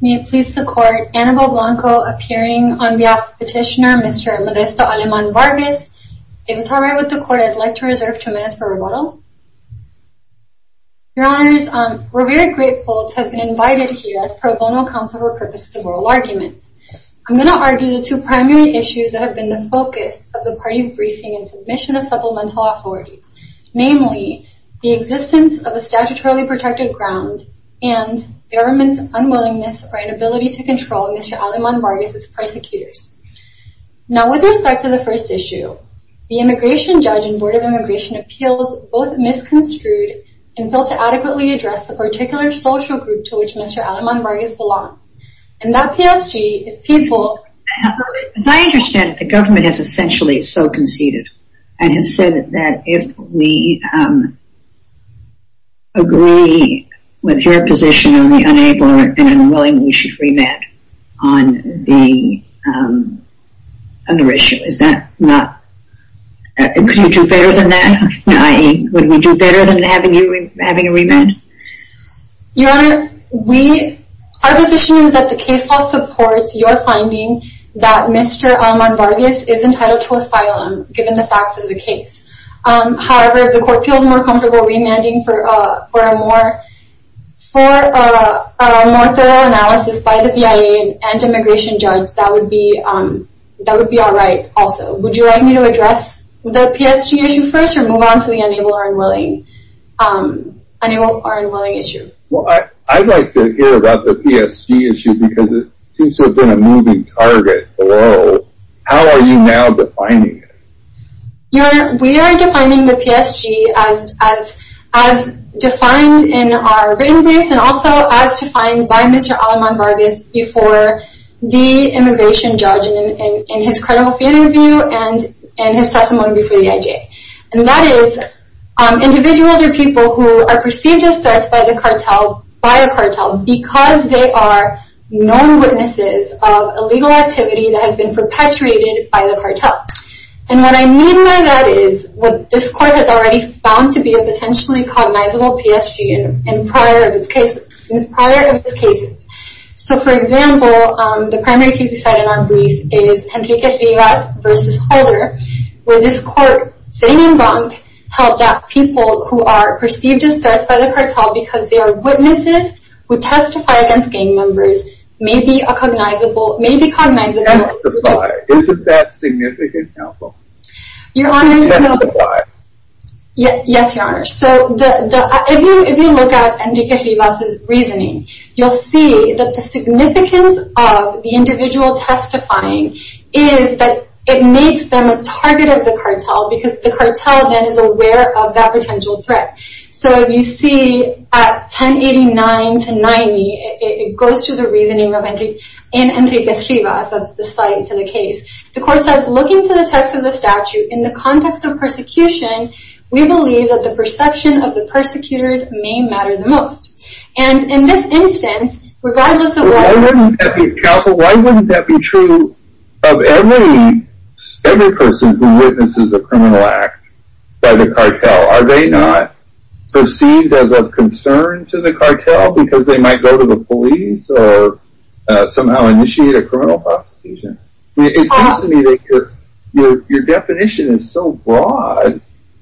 May it please the court, Annabelle Blanco appearing on behalf of petitioner Mr. Modesto Aleman Vargas. If it's alright with the court, I'd like to reserve two minutes for rebuttal. Your honors, we're very grateful to have been invited here as pro bono counsel for purposes of oral arguments. I'm going to argue the two primary issues that have been the focus of the party's briefing and submission of supplemental authorities, namely the existence of a statutorily protected ground and the government's unwillingness or inability to control Mr. Aleman Vargas' persecutors. Now with respect to the first issue, the immigration judge and Board of Immigration Appeals both misconstrued and failed to adequately address the particular social group to which Mr. Aleman Vargas belongs, and that PSG is painful... As I understand it, the government has essentially so conceded and said that if we agree with your position on the enabler, then I'm willing we should remand on the other issue. Is that not... Could you do better than that? I.e., would we do better than having you remand? Your honor, we... Our position is that the case law supports your finding that Mr. Aleman Vargas is entitled to the case. However, if the court feels more comfortable remanding for a more thorough analysis by the BIA and immigration judge, that would be alright also. Would you like me to address the PSG issue first or move on to the enabler unwilling issue? Well, I'd like to hear about the PSG issue because it seems to have been a moving target below. How are you now defining it? Your honor, we are defining the PSG as defined in our written briefs and also as defined by Mr. Aleman Vargas before the immigration judge in his credible family view and his testimony before the IJ. And that is, individuals or people who are perceived as threats by the cartel, by a cartel, because they are known perpetrated by the cartel. And what I mean by that is, what this court has already found to be a potentially cognizable PSG in prior of its cases. So, for example, the primary case you cite in our brief is Enrique Rivas vs. Holder, where this court, say name wrong, held that people who are perceived as threats by the cartel because they are witnesses who testify against gang members may be cognizable. Testify. Isn't that significant now? Testify. Yes, your honor. So, if you look at Enrique Rivas' reasoning, you'll see that the significance of the individual testifying is that it makes them a target of the cartel because the cartel then is aware of that potential threat. So, if you see at 1089-90, it goes to the reasoning of Enrique Rivas, that's the cite to the case. The court says, looking to the text of the statute, in the context of persecution, we believe that the perception of the persecutors may matter the most. And in this instance, regardless of what... Why wouldn't that be true of every person who witnesses a criminal act by the cartel because they might go to the police or somehow initiate a criminal prosecution? It seems to me that your definition is so broad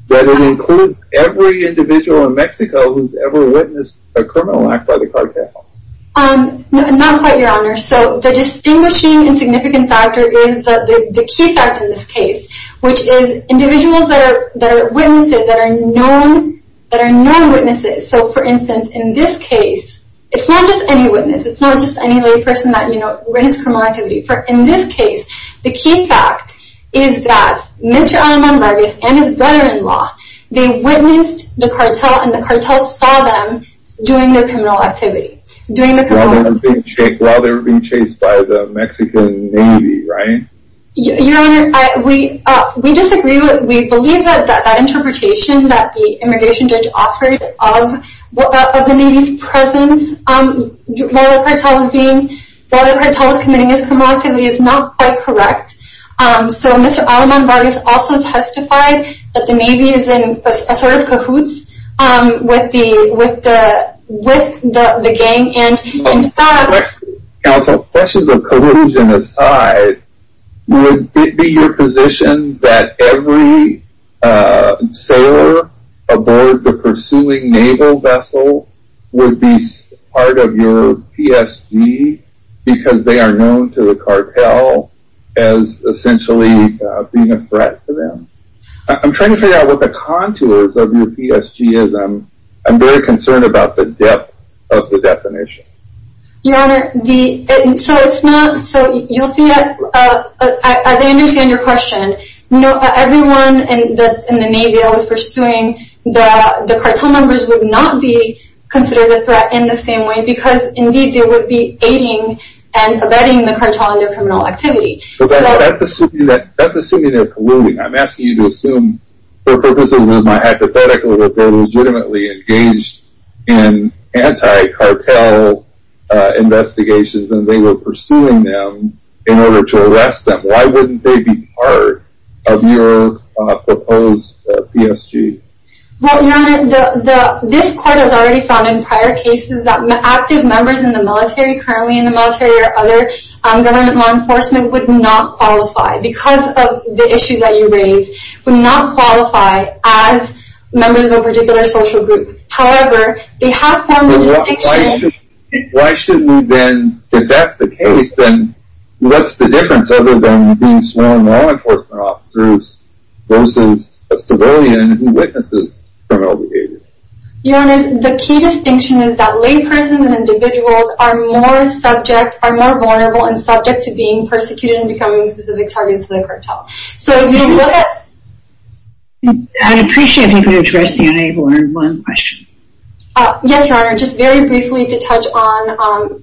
that it includes every individual in Mexico who's ever witnessed a criminal act by the cartel. Not quite, your honor. So, the distinguishing and significant factor is the key fact in this case, which is individuals that are witnesses, that are non-witnesses. So, for instance, in this case, it's not just any witness, it's not just any lay person that, you know, witnessed a criminal activity. In this case, the key fact is that Mr. Alan Mon-Vargas and his brother-in-law, they witnessed the cartel and the cartel saw them doing their criminal activity. While they were being chased by the Mexican Navy, right? Your honor, we disagree. We believe that that interpretation that the immigration judge offered of the Navy's presence while the cartel was committing its criminal activity is not quite correct. So, Mr. Alan Mon-Vargas also testified that the Navy is in a sort of cahoots with the gang and in fact... Counsel, questions of cahoots and aside, would it be your position that every sailor aboard the pursuing naval vessel would be part of your PSG because they are known to the cartel as essentially being a threat to them? I'm trying to figure out what the contours of your PSG is. I'm very concerned about the depth of the definition. Your honor, the... So, it's not... So, you'll see that... As I understand your question, everyone in the Navy that was pursuing the cartel members would not be considered a threat in the same way because indeed they would be aiding and abetting the cartel in their criminal activity. That's assuming they're colluding. I'm asking you to assume for purposes of my hypothetical that they're legitimately engaged in anti-cartel investigations and they were pursuing them in order to arrest them. Why wouldn't they be part of your proposed PSG? Well, your honor, this court has already found in prior cases that active members in the military, currently in the military or other government law enforcement, would not qualify because of the issue that you raised, would not qualify as members of a particular social group. However, they if that's the case, then what's the difference other than being sworn law enforcement officers versus a civilian who witnesses criminal behavior? Your honor, the key distinction is that laypersons and individuals are more subject, are more vulnerable and subject to being persecuted and becoming specific targets of the cartel. So, if you look at... I'd appreciate if you could address the unable-armed one question. Yes, your honor. Just very briefly to touch on,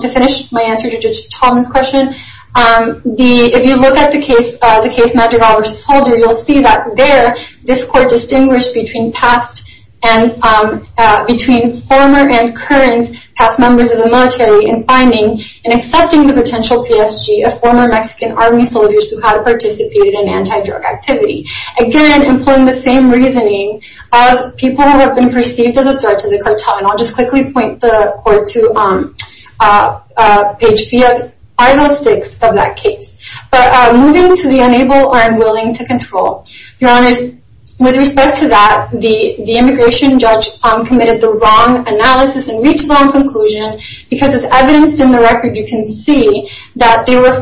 to finish my answer to Judge Tolman's question. If you look at the case Madrigal v. Solder, you'll see that there, this court distinguished between past and, between former and current past members of the military in finding and accepting the potential PSG of former Mexican Army soldiers who had participated in anti-drug activity. Again, employing the same reasoning of people who have been perceived as a threat to the cartel. And I'll just quickly point the court to page 506 of that case. But moving to the unable-armed willing to control. Your honors, with respect to that, the immigration judge committed the wrong analysis and reached the wrong conclusion because as evidenced in the record, you can see that they were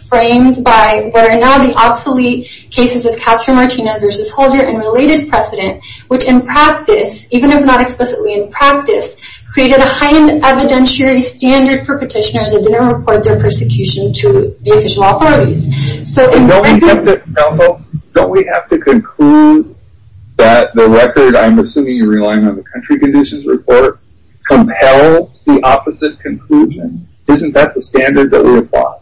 framed by what are now the obsolete cases of Castro-Martinez v. Holder and related precedent, which in practice, even if not explicitly in practice, created a heightened evidentiary standard for petitioners that didn't report their persecution to the official authorities. Don't we have to conclude that the record, I'm assuming you're relying on the country conditions report, compels the opposite conclusion? Isn't that the case?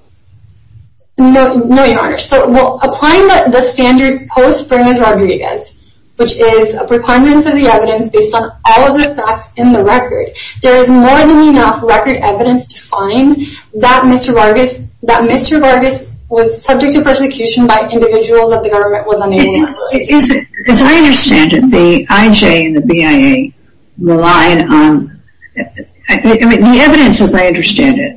No, your honor. So applying the standard post-Bernas Rodriguez, which is a preponderance of the evidence based on all of the facts in the record, there is more than enough record evidence to find that Mr. Vargas was subject to persecution by individuals that the government was unable to control. As I understand it, the IJ and the BIA relied on, the evidence as I understand it,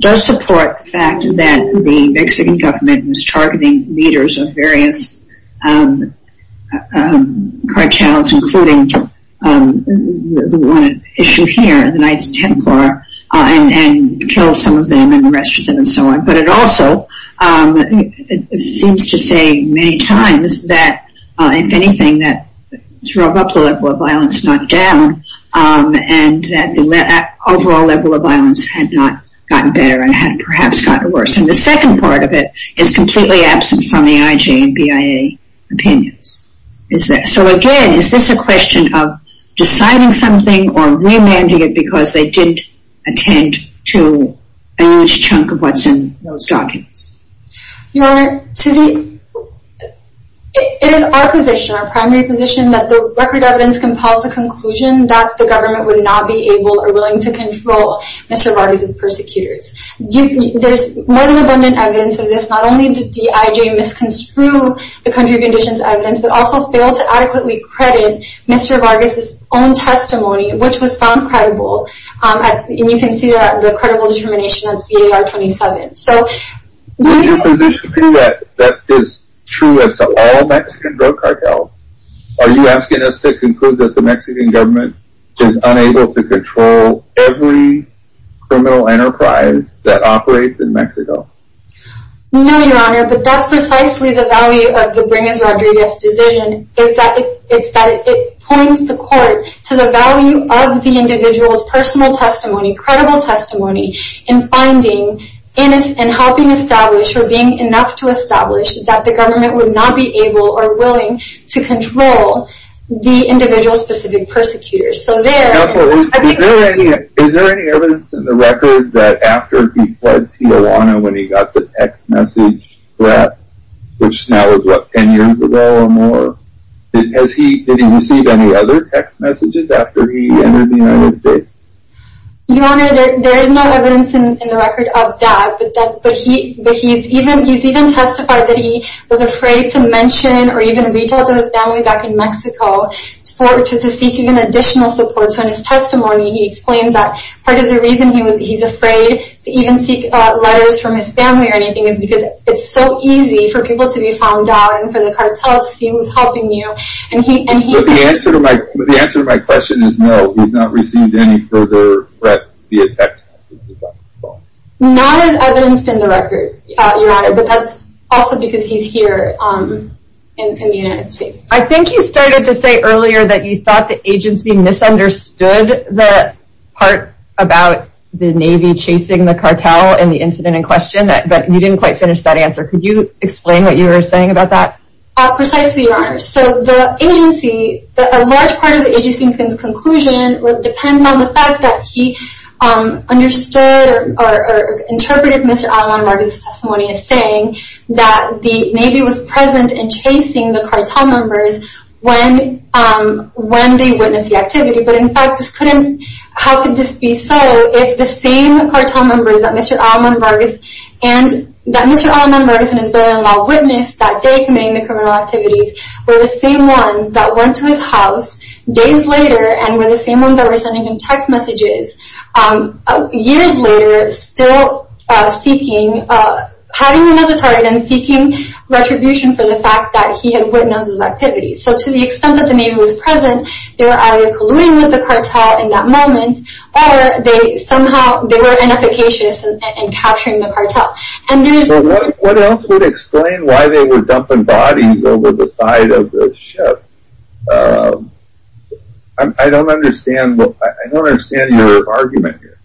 does support the fact that the Mexican government was targeting leaders of various cartels, including the one at issue here, the Knights Templar, and killed some of them and arrested them and so on. But it also seems to say many times that if anything, that to rub up the level of violence, not down, and that overall level of violence had not gotten better and had perhaps gotten worse. And the second part of it is completely absent from the IJ and BIA opinions. So again, is this a question of deciding something or remanding it because they didn't attend to a huge chunk of what's in those documents? Your honor, it is our position, our primary position, that the record evidence compels a conclusion that the government would not be able or willing to control Mr. Vargas' persecutors. There's more than abundant evidence of this. Not only did the IJ misconstrue the country of conditions evidence, but also failed to adequately credit Mr. Vargas' own testimony, which was found credible. And you can see the credible determination on CAR 27. Would your position be that that is true as to all Mexican drug cartels? Are you asking us to conclude that the Mexican government is unable to control every criminal enterprise that operates in Mexico? No, your honor, but that's precisely the value of the Bringus-Rodriguez decision. It's that it points the court to the value of the individual's personal testimony, and finding and helping establish, or being enough to establish, that the government would not be able or willing to control the individual-specific persecutors. Is there any evidence in the record that after he fled Tijuana when he got the text message threat, which now is what, 10 years ago or more, did he receive any other text messages after he entered the United States? Your honor, there is no evidence in the record of that. But he's even testified that he was afraid to mention or even reach out to his family back in Mexico to seek even additional support. So in his testimony, he explains that part of the reason he's afraid to even seek letters from his family or anything is because it's so easy for people to be found out and for the cartel to see who's helping you. But the answer to my question is no, he's not received any further threats via text messages. Not as evidenced in the record, your honor, but that's also because he's here in the United States. I think you started to say earlier that you thought the agency misunderstood the part about the Navy chasing the cartel and the incident in question, but you didn't quite finish that answer. Could you explain what you were saying about that? Precisely, your honor. So the agency, a large part of the agency's conclusion depends on the fact that he understood or interpreted Mr. Alamán Vargas' testimony as saying that the Navy was present and chasing the cartel members when they witnessed the activity. But in fact, how could this be so if the same cartel members that Mr. Alamán Vargas and his brother-in-law witnessed that day committing the criminal activities were the same ones that went to his house days later and were the same ones that were sending him text messages years later still seeking, having him as a target and seeking retribution for the fact that he had witnessed those activities. So to the extent that the Navy was present, they were either colluding with the cartel in that moment or they somehow, they were inefficacious in capturing the cartel. So what else would explain why they were dumping bodies over the side of the ship? I don't understand your argument here.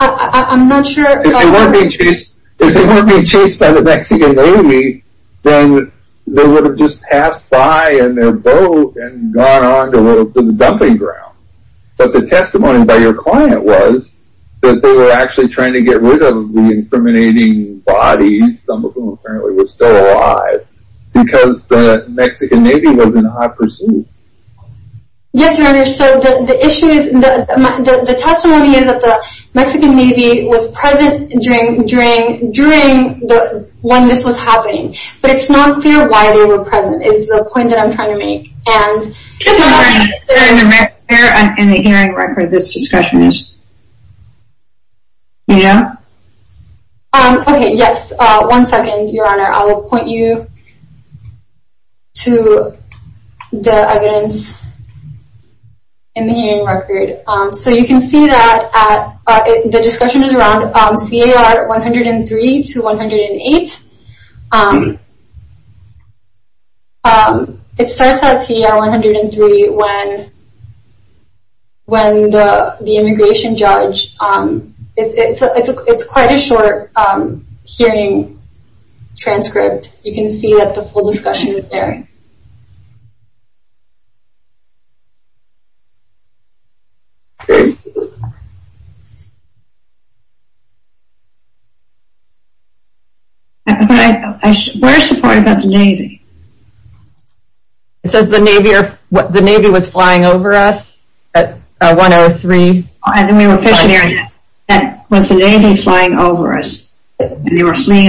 I'm not sure. If they weren't being chased by the Mexican Navy, then they would have just passed by in their boat and gone on to the dumping ground. But the testimony by your client was that they were actually trying to get rid of the incriminating bodies, some of whom apparently were still alive, because the Mexican Navy was in high pursuit. Yes, Your Honor, so the issue is, the testimony is that the Mexican Navy was present during when this was happening. But it's not clear why they were present is the point that I'm trying to make. Is it clear in the hearing record this discussion is? Yeah? Okay, yes. One second, Your Honor. I will point you to the evidence in the hearing record. So you can see that the discussion is around CAR 103 to 108. It starts at CAR 103 when the immigration judge, it's quite a short hearing transcript. You can see that the full discussion is there. Okay. Where is the part about the Navy? It says the Navy was flying over us at 103. And then we were fishing there and was the Navy flying over us and they were precisely,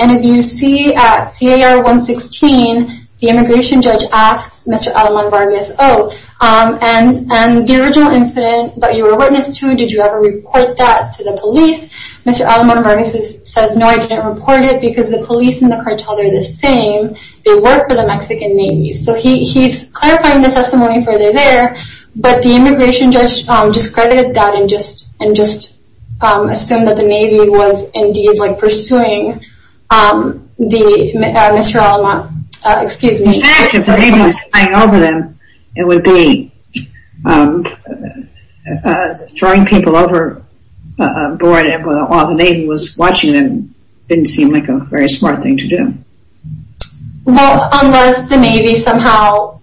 and if you see at CAR 116, the immigration judge asks Mr. Aleman Vargas, oh, and the original incident that you were witness to, did you ever report that to the police? Mr. Aleman Vargas says, no, I didn't report it because the police and the cartel, they're the same. They work for the Mexican Navy. So he's clarifying the testimony further there, but the immigration judge discredited that and just assumed that the Navy was indeed like pursuing Mr. Aleman, excuse me. If the Navy was flying over them, it would be throwing people overboard while the Navy was watching them didn't seem like a very smart thing to do. Unless the Navy somehow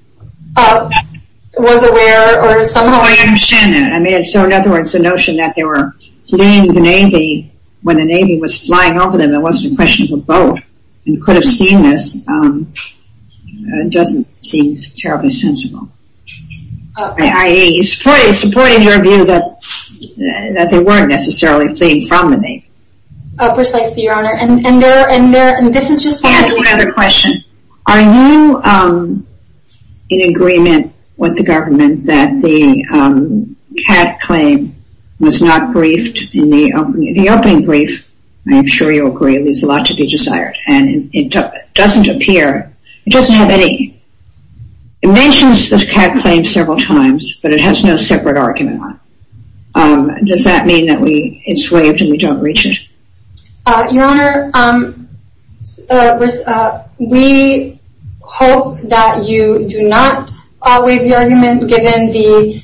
was aware or somehow. I understand that. So in other words, the notion that they were fleeing the Navy when the Navy was flying over them, it wasn't a question of a boat. You could have seen this. It doesn't seem terribly sensible. Supporting your view that they weren't necessarily fleeing from the Navy. Precisely, Your Honor. I have one other question. Are you in agreement with the government that the cat claim was not briefed in the opening brief? I'm sure you'll agree there's a lot to be desired. And it doesn't appear, it doesn't have any. It mentions this cat claim several times, but it has no separate argument on it. Does that mean that it's waived and we don't reach it? Your Honor, we hope that you do not waive the argument given the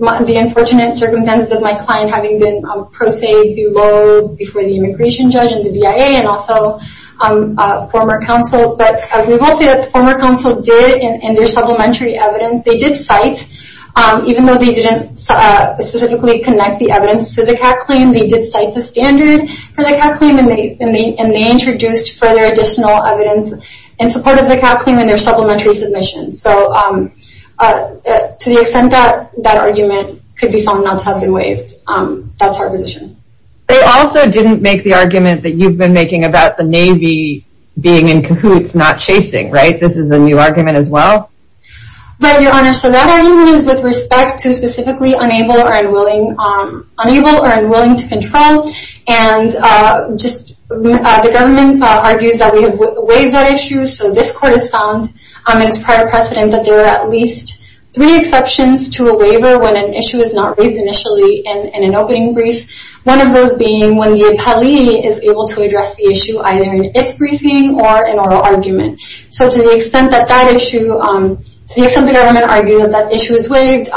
unfortunate circumstances of my client having been pro se below before the immigration judge and the BIA and also former counsel. But as we've all said, former counsel did in their supplementary evidence, they did cite, even though they didn't specifically connect the evidence to the cat claim, they did cite the standard for the cat claim and they introduced further additional evidence in support of the cat claim in their supplementary submission. So to the extent that that argument could be found not to have been waived, that's our position. They also didn't make the argument that you've been making about the Navy being in cahoots, not chasing, right? This is a new argument as well? Right, Your Honor. So that argument is with respect to specifically unable or unwilling to control. And just the government argues that we have waived that issue, so this court has found in its prior precedent that there are at least three exceptions to a waiver when an issue is not raised initially in an opening brief, one of those being when the appellee is able to address the issue either in its briefing or in oral argument. So to the extent that that issue, to the extent the government argues that that issue is waived,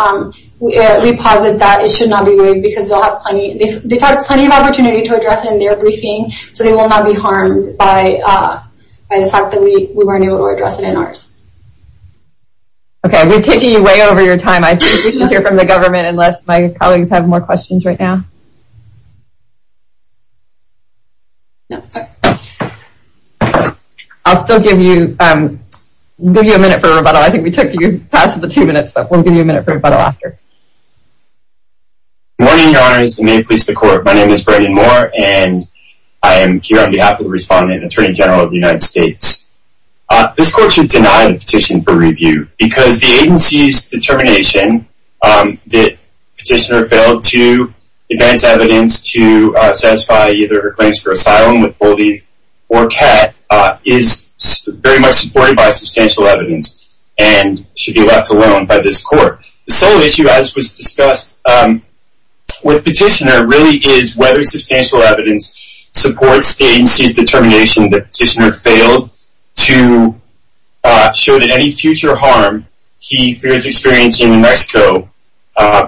we posit that it should not be waived because they'll have plenty, they've had plenty of opportunity to address it in their briefing, so they will not be harmed by the fact that we weren't able to address it in ours. Okay, we've taken you way over your time. I think we can hear from the government unless my colleagues have more questions right now. No. I'll still give you a minute for rebuttal. I think we took you past the two minutes, but we'll give you a minute for rebuttal after. Good morning, Your Honors, and may it please the Court. My name is Brayden Moore, and I am here on behalf of the Respondent and Attorney General of the United States. This court should deny the petition for review because the agency's determination that the petitioner failed to advance evidence to satisfy either her claims for liability or CAT is very much supported by substantial evidence and should be left alone by this court. The sole issue, as was discussed with the petitioner, really is whether substantial evidence supports the agency's determination that the petitioner failed to show that any future harm he fears experiencing in Mexico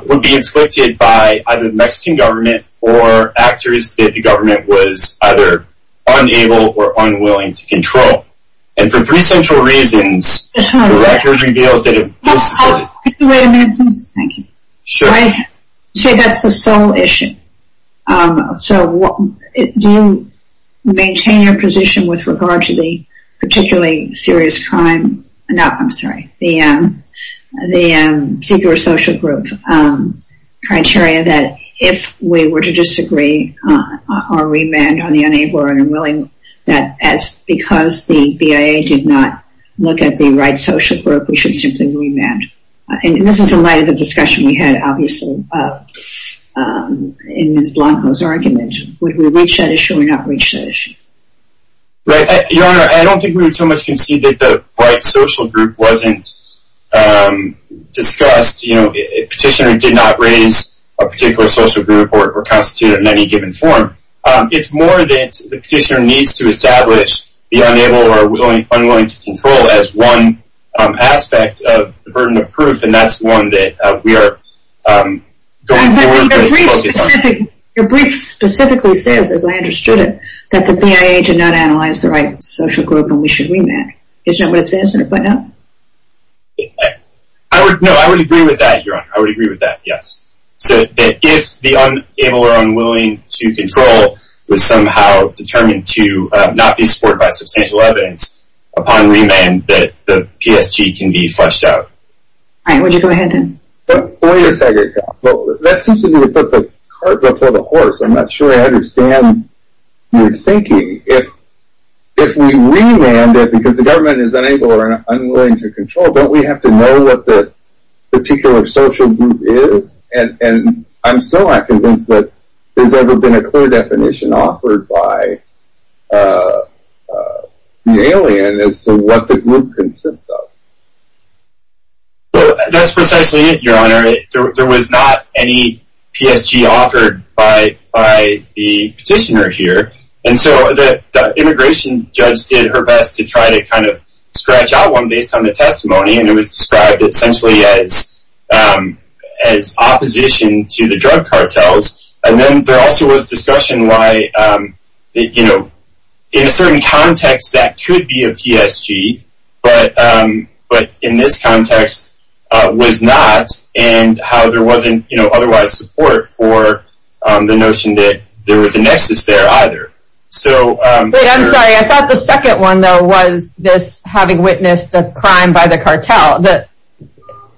would be inflicted by either the Mexican government or actors that the agency is unable or unwilling to control. And for three central reasons, the record reveals that it was. Wait a minute, please. Thank you. Sure. See, that's the sole issue. So do you maintain your position with regard to the particularly serious crime? No, I'm sorry. The secret social group criteria that if we were to disagree or remand on the neighbor and unwilling that because the BIA did not look at the right social group, we should simply remand. And this is in light of the discussion we had, obviously, in Ms. Blanco's argument. Would we reach that issue or not reach that issue? Right. Your Honor, I don't think we would so much concede that the right social group wasn't discussed. The petitioner did not raise a particular social group or constitute it in any given form. It's more that the petitioner needs to establish the unable or unwilling to control as one aspect of the burden of proof, and that's one that we are going forward with. Your brief specifically says, as I understood it, that the BIA did not analyze the right social group and we should remand. Isn't that what it says in your footnote? No, I would agree with that, Your Honor. I would agree with that, yes. If the unable or unwilling to control was somehow determined to not be supported by substantial evidence, upon remand, the PSG can be flushed out. All right. Would you go ahead, then? Wait a second. That seems to me to put the cart before the horse. I'm not sure I understand your thinking. If we remand it because the government is unable or unwilling to control, don't we have to know what the particular social group is? And I'm so not convinced that there's ever been a clear definition offered by the alien as to what the group consists of. That's precisely it, Your Honor. There was not any PSG offered by the petitioner here, and so the immigration judge did her best to try to kind of scratch out one based on the testimony, and it was described essentially as opposition to the drug cartels. And then there also was discussion why in a certain context that could be a PSG, but in this context was not, and how there wasn't otherwise support for the notion that there was a nexus there either. Wait, I'm sorry. I thought the second one, though, was this having witnessed a crime by the cartel.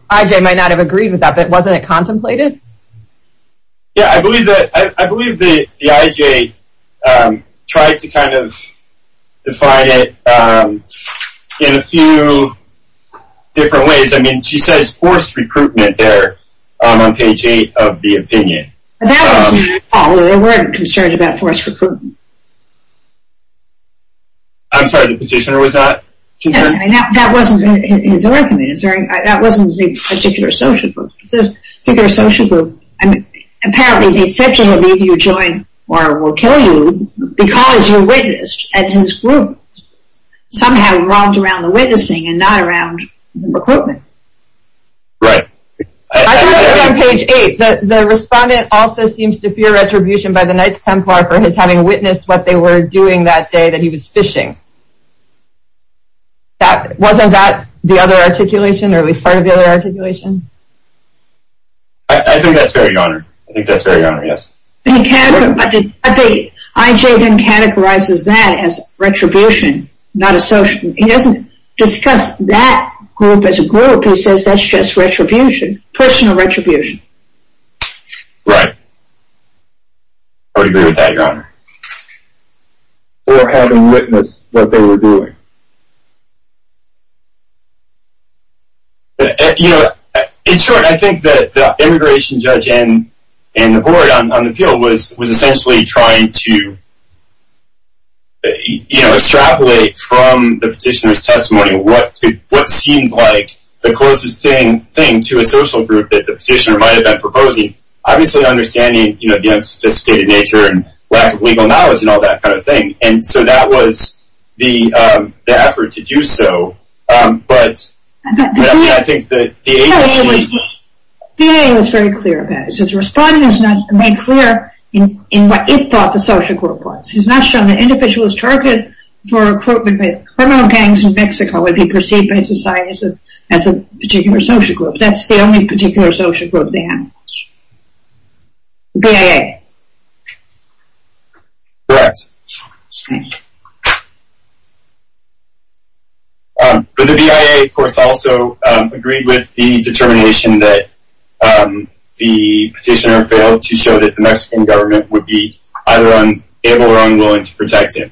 I.J. might not have agreed with that, but wasn't it contemplated? Yeah, I believe that I.J. tried to kind of define it in a few different ways. I mean, she says forced recruitment there on page eight of the opinion. That wasn't all. There weren't concerns about forced recruitment. I'm sorry, the petitioner was not concerned? That wasn't his argument. That wasn't the particular social group. The particular social group, apparently they said to him, either you join or we'll kill you because you witnessed, and his group somehow revolved around the witnessing and not around recruitment. Right. I think it was on page eight. The respondent also seems to fear retribution by the Knights Templar for his having witnessed what they were doing that day that he was fishing. Wasn't that the other articulation, or at least part of the other articulation? I think that's fair, Your Honor. I think that's fair, Your Honor, yes. I.J. then categorizes that as retribution, not as social. He doesn't discuss that group as a group. He says that's just retribution, personal retribution. Right. I would agree with that, Your Honor. Or having witnessed what they were doing. In short, I think that the immigration judge and the board on the field was essentially trying to extrapolate from the petitioner's testimony what seemed like the closest thing to a social group that the petitioner might have been proposing. Obviously understanding the unsophisticated nature and lack of legal knowledge and all that kind of thing. And so that was the effort to do so. But I think that the agency... The VA was very clear about it. So the respondent is not made clear in what it thought the social group was. He's not shown that individuals targeted for recruitment with criminal gangs in Mexico would be perceived by society as a particular social group. That's the only particular social group they had in question. The BIA. Correct. But the BIA, of course, also agreed with the determination that the petitioner failed to show that the Mexican government would be either unable or unwilling to protect him.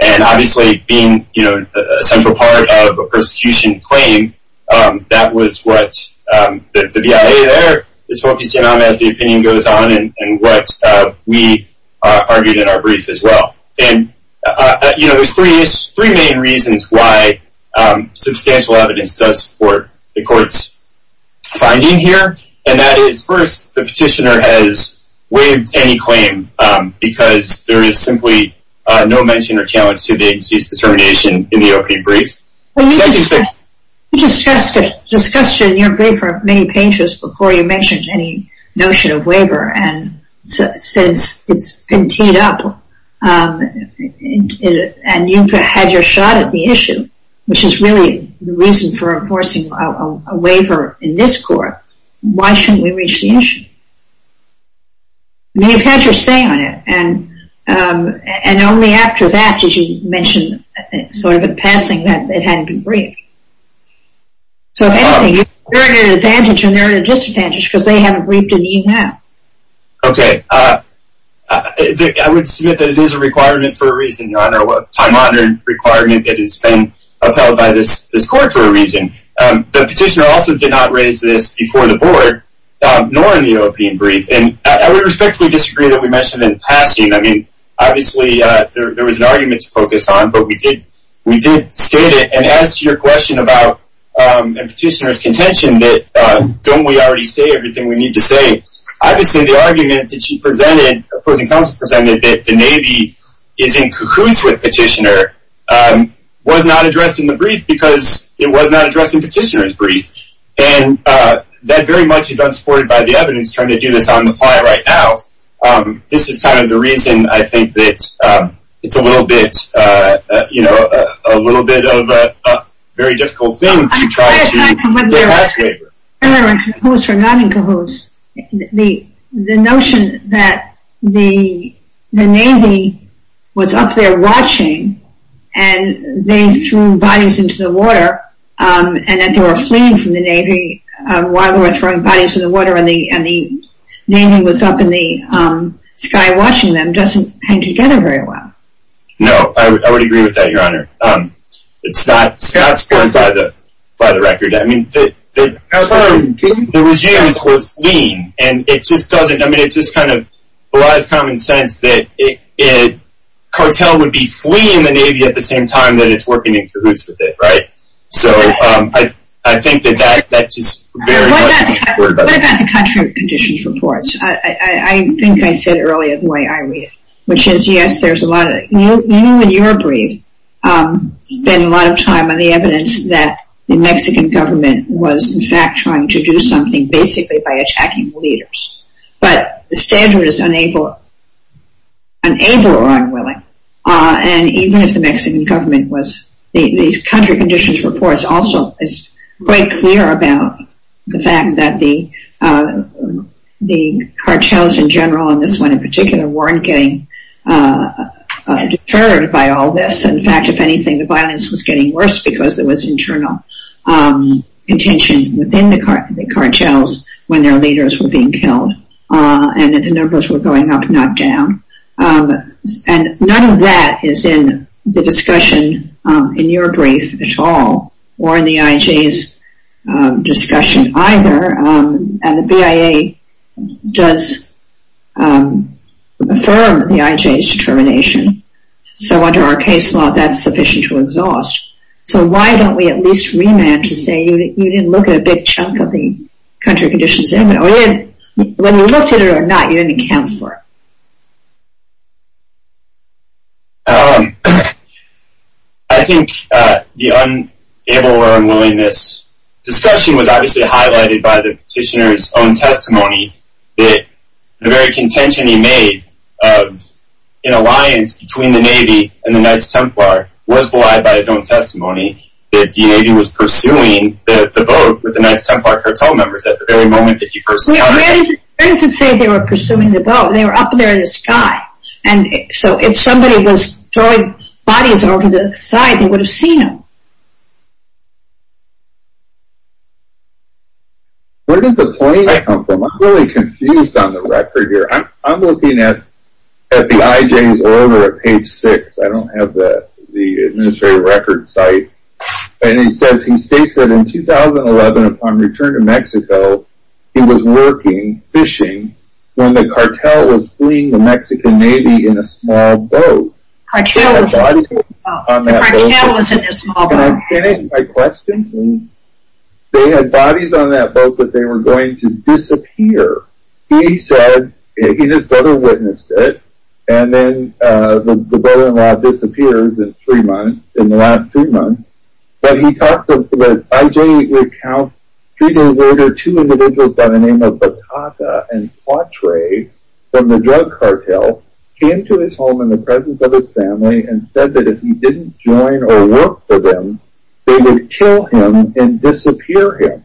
And obviously being a central part of a prosecution claim, that was what the BIA there is focusing on as the opinion goes on and what we argued in our brief as well. And there's three main reasons why substantial evidence does support the court's finding here. And that is, first, the petitioner has waived any claim because there is simply no mention or challenge to the agency's determination in the opening brief. You discussed it in your brief for many pages before you mentioned any notion of waiver. And since it's been teed up and you've had your shot at the issue, which is really the reason for enforcing a waiver in this court, why shouldn't we reach the issue? You've had your say on it. And only after that did you mention sort of in passing that it hadn't been briefed. So, if anything, you're at an advantage and they're at a disadvantage because they haven't briefed in even half. I would submit that it is a requirement for a reason, Your Honor. A time-honored requirement that has been upheld by this court for a reason. The petitioner also did not raise this before the board, nor in the opening brief. And I would respectfully disagree that we mentioned in passing. I mean, obviously, there was an argument to focus on, but we did state it. And as to your question about a petitioner's contention that don't we already say everything we need to say? Obviously, the argument that she presented, opposing counsel presented, that the Navy is in cahoots with petitioner was not addressed in the brief because it was not addressed in petitioner's brief. And that very much is unsupported by the evidence trying to do this on the fly right now. This is kind of the reason, I think, that it's a little bit, you know, a little bit of a very difficult thing to try to get a pass waiver. I'm not in cahoots or not in cahoots. The notion that the Navy was up there watching and they threw bodies into the water and that they were fleeing from the Navy while they were throwing bodies in the water and the Navy was up in the sky watching them doesn't hang together very well. No, I would agree with that, Your Honor. It's not supported by the record. I mean, the regime was fleeing and it just doesn't, I mean, it just kind of belies common sense that a cartel would be fleeing the Navy at the same time that it's working in cahoots with it, right? So, I think that that's just very much unsupported. What about the country conditions reports? I think I said earlier the way I read it, which is, yes, there's a lot of, you in your brief spend a lot of time on the evidence that the Mexican government was in fact trying to do something basically by attacking the leaders. But the standard is unable or unwilling. And even if the Mexican government was, the country conditions reports also is quite clear about the fact that the cartels in general, and this one in particular, weren't getting deterred by all this. In fact, if anything, the violence was getting worse because there was internal contention within the cartels when their leaders were being killed and that the numbers were going up, not down. And none of that is in the discussion in your brief at all or in the IJ's discussion either. And the BIA does affirm the IJ's determination. So under our case law, that's sufficient to exhaust. So why don't we at least remand to say you didn't look at a big chunk of the country conditions. When you looked at it or not, you didn't account for it. I think the unable or unwillingness discussion was obviously highlighted by the petitioner's own testimony that the very contention he made in alliance between the Navy and the Knights Templar was belied by his own testimony that the Navy was pursuing the boat with the Knights Templar cartel members at the very moment that he first encountered them. Where does it say they were pursuing the boat? They were up there in the sky. And so if somebody was throwing bodies over the side, they would have seen them. Where did the point come from? I'm really confused on the record here. I'm looking at the IJ's order at page 6. I don't have the administrative record site. And it says, he states that in 2011 upon return to Mexico, he was working, fishing, when the cartel was fleeing the Mexican Navy in a small boat. The cartel was in a small boat. And I'm kidding. My question is, they had bodies on that boat that they were going to disappear. He said, his brother witnessed it, and then the brother-in-law disappears in three months, in the last three months. But he talked about, IJ recounts, three days later, two individuals by the name of Batata and Cuatre from the drug cartel came to his home in the presence of his family and said that if he didn't join or work for them, they would kill him and disappear him.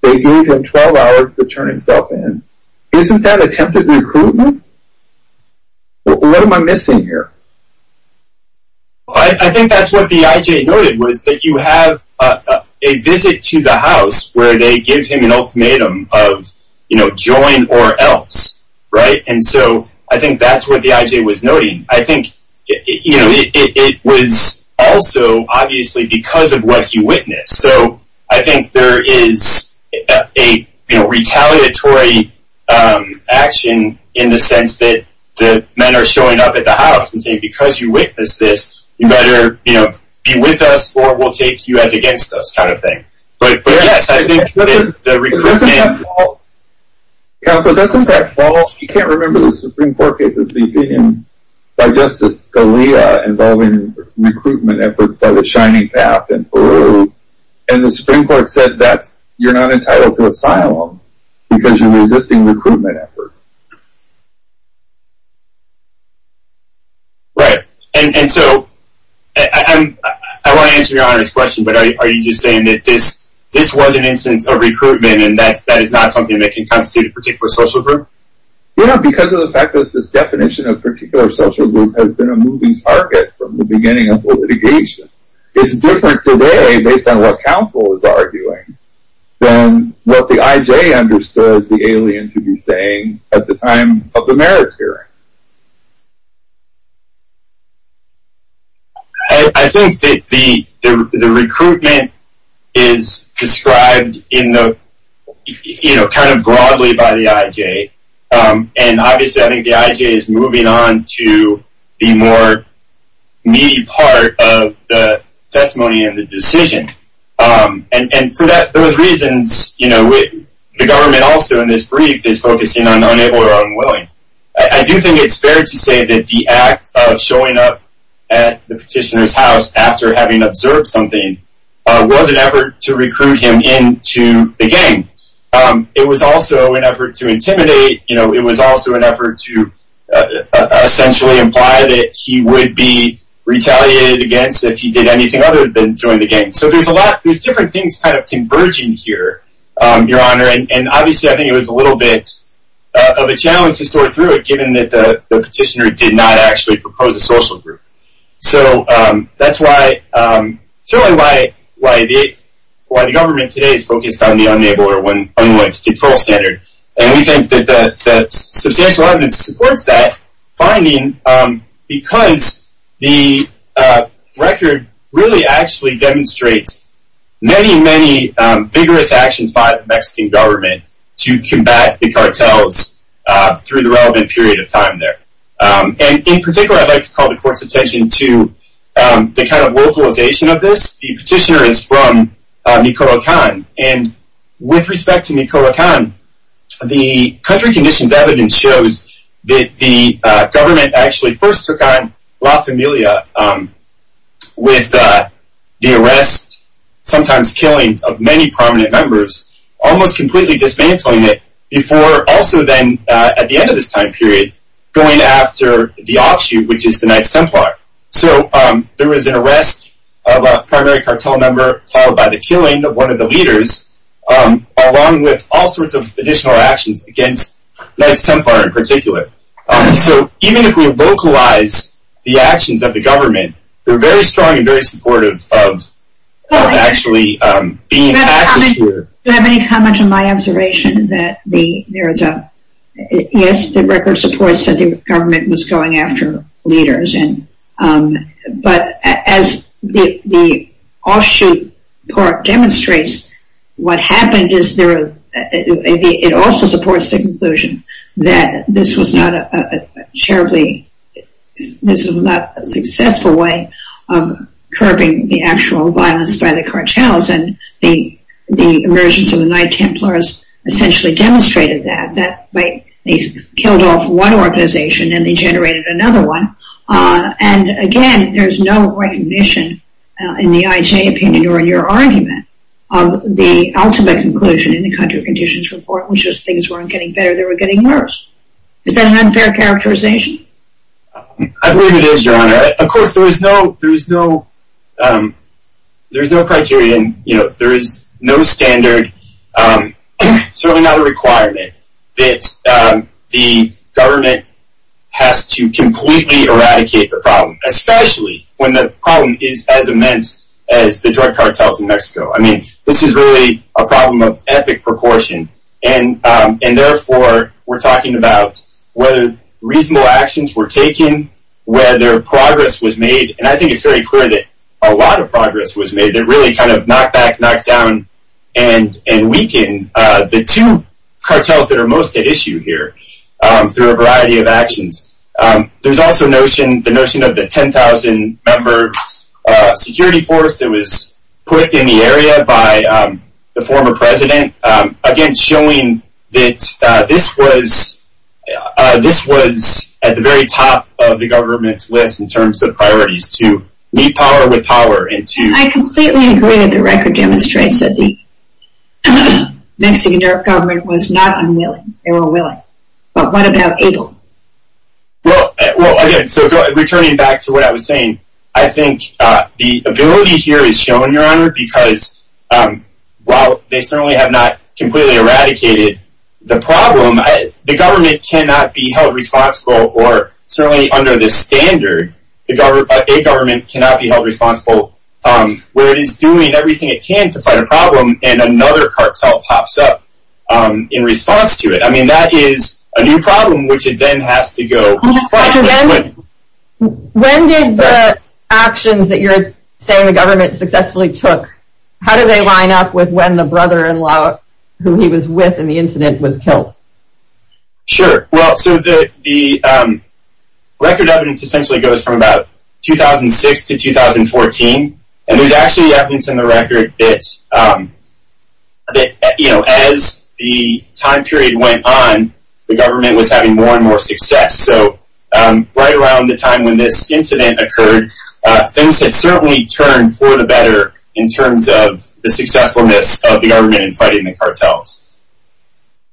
They gave him 12 hours to turn himself in. Isn't that attempted recruitment? What am I missing here? I think that's what the IJ noted, was that you have a visit to the house where they give him an ultimatum of, you know, join or else. Right? And so I think that's what the IJ was noting. I think, you know, it was also obviously because of what he witnessed. So I think there is a retaliatory action in the sense that the men are showing up at the house and saying because you witnessed this, you better, you know, be with us or we'll take you as against us kind of thing. But yes, I think the recruitment... Counsel, doesn't that fall, you can't remember the Supreme Court case that's been in by Justice Scalia involving recruitment efforts by the Shining Path in Peru. And the Supreme Court said that you're not entitled to asylum because you're resisting recruitment efforts. Right. And so I want to answer your Honor's question, but are you just saying that this was an instance of recruitment and that is not something that can constitute a particular social group? Yeah, because of the fact that this definition of particular social group has been a moving target from the beginning of the litigation. It's different today based on what counsel is arguing than what the IJ understood the alien to be saying at the time of the merits hearing. I think that the recruitment is described in the, you know, kind of broadly by the IJ. And obviously I think the IJ is moving on to the more meaty part of the testimony and the decision. And for those reasons, you know, the government also in this brief is focusing on the unable or unwilling. I do think it's fair to say that the act of showing up at the petitioner's house after having observed something was an effort to recruit him into the gang. It was also an effort to intimidate. You know, it was also an effort to essentially imply that he would be retaliated against if he did anything other than join the gang. So there's a lot, there's different things kind of converging here, Your Honor. And obviously I think it was a little bit of a challenge to sort through it given that the petitioner did not actually propose a social group. So that's really why the government today is focused on the unable or unwilling control standard. And we think that the substantial evidence supports that finding because the record really actually demonstrates many, many vigorous actions by the Mexican government to combat the cartels through the relevant period of time there. And in particular, I'd like to call the Court's attention to the kind of localization of this. The petitioner is from Nicaraguan. And with respect to Nicaraguan, the country conditions evidence shows that the government actually first took on La Familia with the arrest, sometimes killings, of many prominent members, almost completely dismantling it before also then at the end of this time period going after the offshoot, which is the 9th Templar. So there was an arrest of a primary cartel member followed by the killing of one of the leaders along with all sorts of additional actions against 9th Templar in particular. So even if we localize the actions of the government, they're very strong and very supportive of actually being active here. Do you have any comment on my observation that there is a... Yes, the record supports that the government was going after leaders. But as the offshoot part demonstrates, what happened is it also supports the conclusion that this was not a terribly... this was not a successful way of curbing the actual violence by the cartels. And the emergence of the 9th Templars essentially demonstrated that. They killed off one organization and they generated another one. And again, there's no recognition in the IJ opinion or in your argument of the ultimate conclusion in the Contra Conditions Report, which is things weren't getting better, they were getting worse. Is that an unfair characterization? I believe it is, Your Honor. Of course, there is no criterion. There is no standard, certainly not a requirement that the government has to completely eradicate the problem, especially when the problem is as immense as the drug cartels in Mexico. I mean, this is really a problem of epic proportion. And therefore, we're talking about whether reasonable actions were taken, whether progress was made. And I think it's very clear that a lot of progress was made that really kind of knocked back, knocked down, and weakened. The two cartels that are most at issue here through a variety of actions. There's also the notion of the 10,000-member security force that was put in the area by the former president. Again, showing that this was at the very top of the government's list in terms of priorities to meet power with power. I completely agree that the record demonstrates that the Mexican government was not unwilling. They were willing. But what about Abel? Well, again, so returning back to what I was saying, I think the ability here is shown, Your Honor, because while they certainly have not completely eradicated the problem, the government cannot be held responsible, or certainly under this standard, a government cannot be held responsible, where it is doing everything it can to fight a problem and another cartel pops up in response to it. I mean, that is a new problem, which it then has to go fight. When did the actions that you're saying the government successfully took, how do they line up with when the brother-in-law who he was with in the incident was killed? Sure. Well, so the record evidence essentially goes from about 2006 to 2014, and there's actually evidence in the record that as the time period went on, the government was having more and more success. So right around the time when this incident occurred, things had certainly turned for the better in terms of the successfulness of the government in fighting the cartels.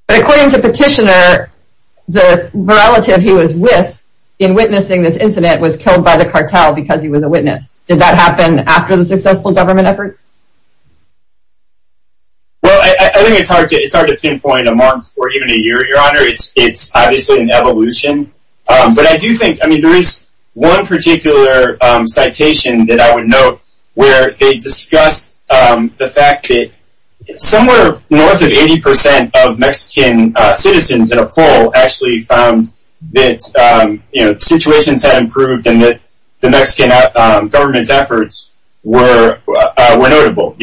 But according to Petitioner, the relative he was with in witnessing this incident was killed by the cartel because he was a witness. Did that happen after the successful government efforts? Well, I think it's hard to pinpoint a month or even a year, Your Honor. It's obviously an evolution. But I do think, I mean, there is one particular citation that I would note where they discussed the fact that somewhere north of 80% of Mexican citizens in a poll actually found that situations had improved and that the Mexican government's efforts were notable,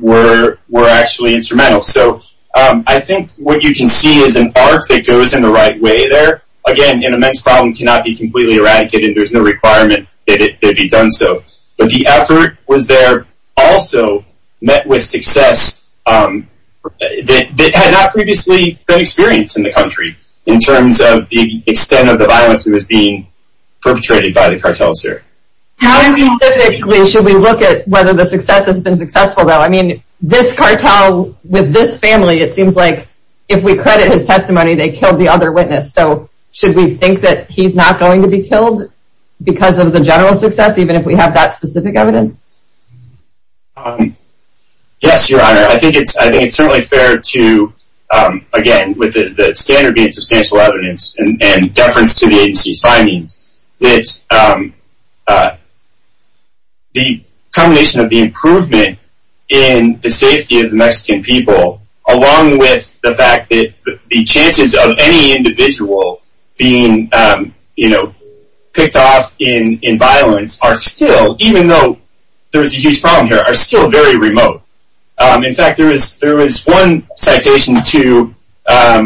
were actually instrumental. So I think what you can see is an arc that goes in the right way there. Again, an immense problem cannot be completely eradicated. There's no requirement that it be done so. But the effort was there also met with success that had not previously been experienced in the country in terms of the extent of the violence that was being perpetrated by the cartels here. How specifically should we look at whether the success has been successful, though? I mean, this cartel with this family, it seems like if we credit his testimony, they killed the other witness. So should we think that he's not going to be killed because of the general success, even if we have that specific evidence? Yes, Your Honor. I think it's certainly fair to, again, with the standard being substantial evidence and deference to the agency's findings, that the combination of the improvement in the safety of the Mexican people along with the fact that the chances of any individual being picked off in violence are still, even though there is a huge problem here, are still very remote. In fact, there was one citation to how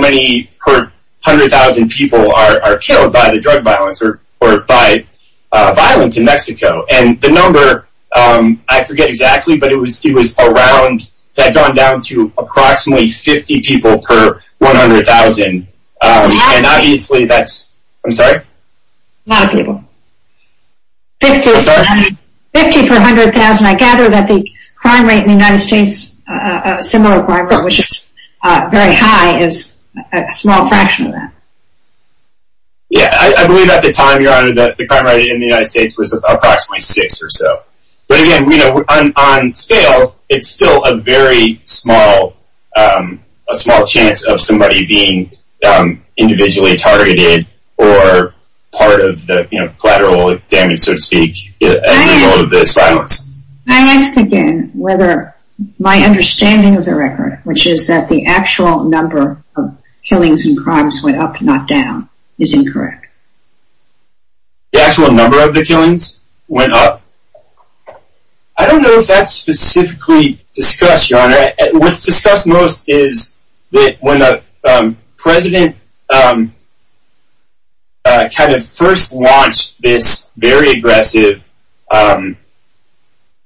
many per 100,000 people are killed by the drug violence or by violence in Mexico. And the number, I forget exactly, but it was around, that had gone down to approximately 50 people per 100,000. And obviously that's, I'm sorry? A lot of people. 50 per 100,000. I gather that the crime rate in the United States, a similar crime rate, which is very high, is a small fraction of that. Yeah, I believe at the time, Your Honor, that the crime rate in the United States was approximately six or so. But again, on scale, it's still a very small chance of somebody being individually targeted or part of the collateral damage, so to speak, at the level of this violence. Can I ask again whether my understanding of the record, which is that the actual number of killings and crimes went up, not down, is incorrect? The actual number of the killings went up? I don't know if that's specifically discussed, Your Honor. What's discussed most is that when the president kind of first launched this very aggressive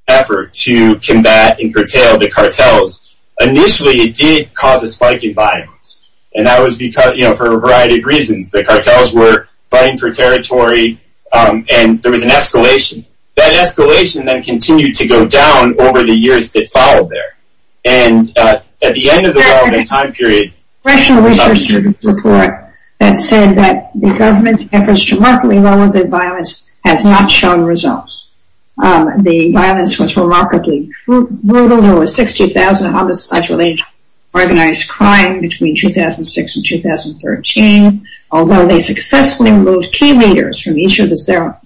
effort to combat and curtail the cartels, initially it did cause a spike in violence. And that was for a variety of reasons. The cartels were fighting for territory, and there was an escalation. That escalation then continued to go down over the years that followed there. And at the end of the well-being time period— There's a congressional research report that said that the government's efforts to remarkably lower the violence has not shown results. The violence was remarkably brutal. There were 60,000 homicides related to organized crime between 2006 and 2013. Although they successfully removed key leaders from each of the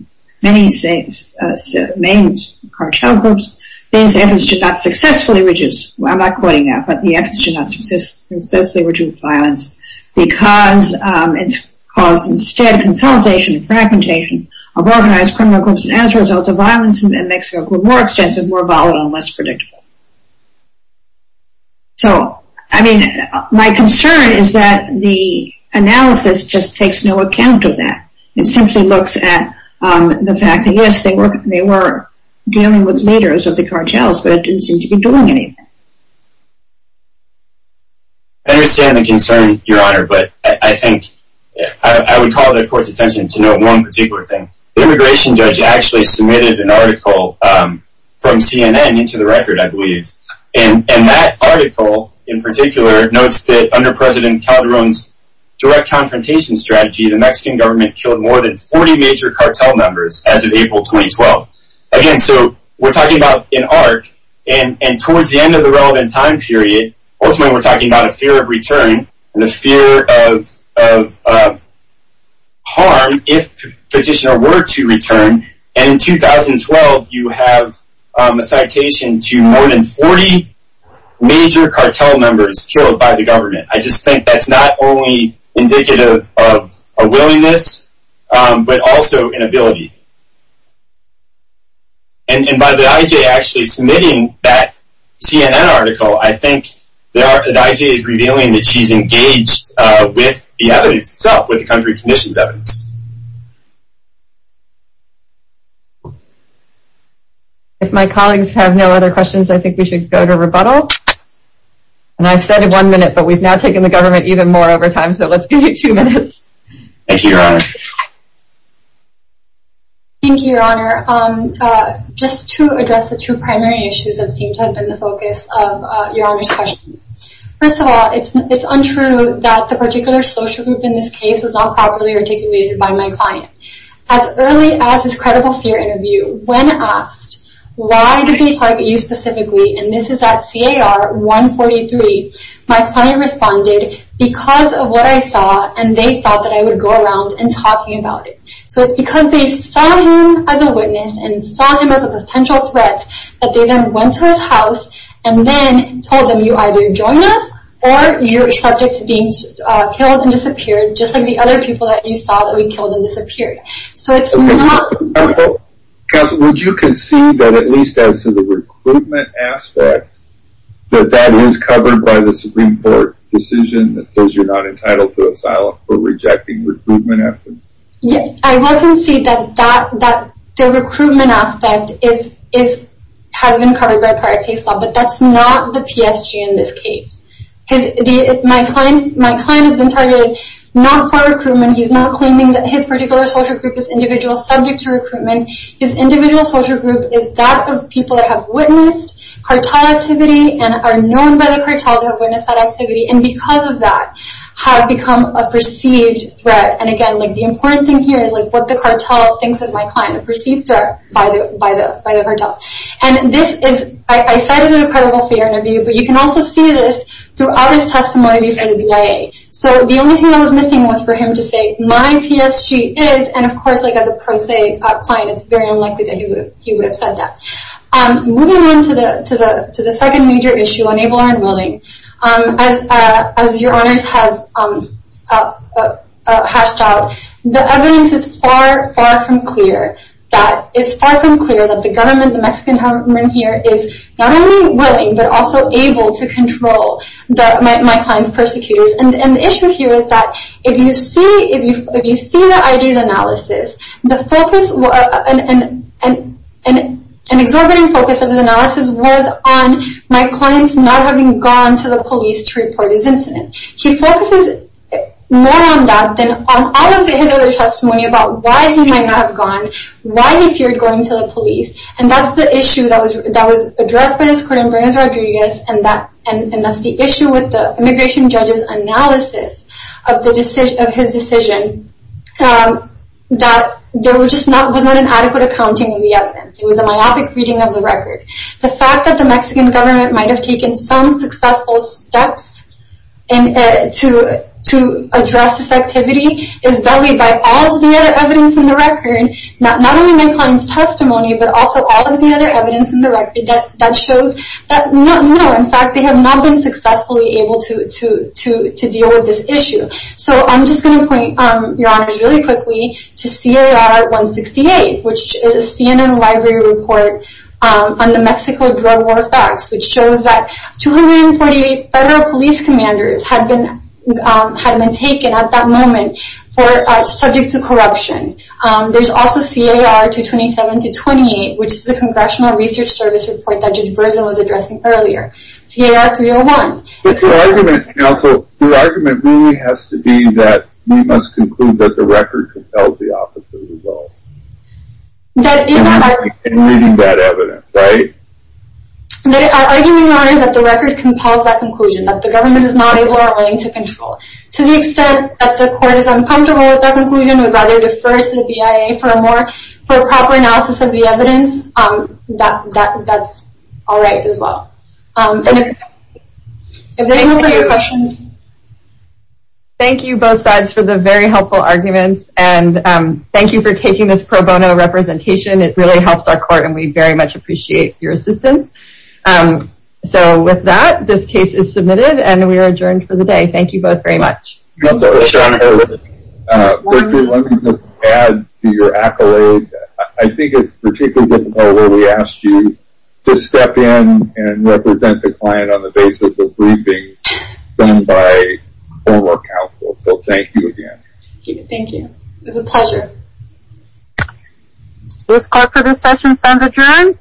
many cartel groups, these efforts did not successfully reduce—I'm not quoting that, but the efforts did not successfully reduce violence because it caused instead consolidation and fragmentation of organized criminal groups. And as a result, the violence in Mexico grew more extensive, more volatile, and less predictable. So, I mean, my concern is that the analysis just takes no account of that. It simply looks at the fact that, yes, they were dealing with leaders of the cartels, but it didn't seem to be doing anything. I understand the concern, Your Honor, but I think— I would call the Court's attention to note one particular thing. The immigration judge actually submitted an article from CNN into the record, I believe, and that article in particular notes that, under President Calderón's direct confrontation strategy, the Mexican government killed more than 40 major cartel members as of April 2012. Again, so we're talking about an arc, and towards the end of the relevant time period, ultimately we're talking about a fear of return and a fear of harm if Petitioner were to return. And in 2012, you have a citation to more than 40 major cartel members killed by the government. I just think that's not only indicative of a willingness, but also an ability. And by the I.J. actually submitting that CNN article, I think the I.J. is revealing that she's engaged with the evidence itself, with the country conditions evidence. If my colleagues have no other questions, I think we should go to rebuttal. And I said one minute, but we've now taken the government even more over time, so let's give you two minutes. Thank you, Your Honor. Thank you, Your Honor. Just to address the two primary issues that seem to have been the focus of Your Honor's questions. First of all, it's untrue that the particular social group in this case was not properly articulated by my client. As early as this credible fear interview, when asked, why did they target you specifically, and this is at CAR 143, my client responded, because of what I saw, and they thought that I would go around and talk to you about it. So it's because they saw him as a witness, and saw him as a potential threat, that they then went to his house, and then told him, you either join us, or you're subject to being killed and disappeared, just like the other people that you saw that were killed and disappeared. Counsel, would you concede that at least as to the recruitment aspect, that that is covered by the Supreme Court decision that says you're not entitled to asylum for rejecting recruitment efforts? I will concede that the recruitment aspect has been covered by prior case law, but that's not the PSG in this case. My client has been targeted not for recruitment, he's not claiming that his particular social group is individual, subject to recruitment. His individual social group is that of people that have witnessed cartel activity, and are known by the cartel to have witnessed that activity, and because of that, have become a perceived threat. And again, the important thing here is what the cartel thinks of my client, a perceived threat by the cartel. And this is, I cite it as a critical fear interview, but you can also see this throughout his testimony before the BIA. So the only thing that was missing was for him to say, my PSG is, and of course as a pro se client, it's very unlikely that he would have said that. Moving on to the second major issue, unable or unwilling. As your honors have hashed out, the evidence is far, far from clear. It's far from clear that the government, the Mexican government here, is not only willing, but also able to control my client's persecutors. And the issue here is that if you see the ID's analysis, the focus, an exorbitant focus of the analysis was on my client's not having gone to the police to report his incident. He focuses more on that than on all of his other testimony about why he might not have gone, why he feared going to the police. And that's the issue that was addressed by his court in Reyes Rodriguez, and that's the issue with the immigration judge's analysis of his decision that there was just not an adequate accounting of the evidence. It was a myopic reading of the record. The fact that the Mexican government might have taken some successful steps to address this activity is bullied by all of the other evidence in the record, not only my client's testimony, but also all of the other evidence in the record that shows that no, in fact, they have not been successfully able to deal with this issue. So I'm just going to point, Your Honors, really quickly to CAR-168, which is a CNN library report on the Mexico drug war facts, which shows that 248 federal police commanders had been taken at that moment subject to corruption. There's also CAR-227-28, which is the Congressional Research Service report that Judge Berzin was addressing earlier. CAR-301. But the argument, counsel, the argument really has to be that we must conclude that the record compels the officer to vote. That is not our— In reading that evidence, right? Our argument, Your Honor, is that the record compels that conclusion, that the government is not able or willing to control. To the extent that the court is uncomfortable with that conclusion, we'd rather defer to the BIA for a more proper analysis of the evidence. That's all right as well. If there are no further questions— Thank you, both sides, for the very helpful arguments, and thank you for taking this pro bono representation. It really helps our court, and we very much appreciate your assistance. So with that, this case is submitted, and we are adjourned for the day. Thank you both very much. Your Honor, let me just add to your accolade. I think it's particularly difficult when we ask you to step in and represent the client on the basis of briefings done by former counsel. So thank you again. Thank you. It was a pleasure. This court for this session stands adjourned.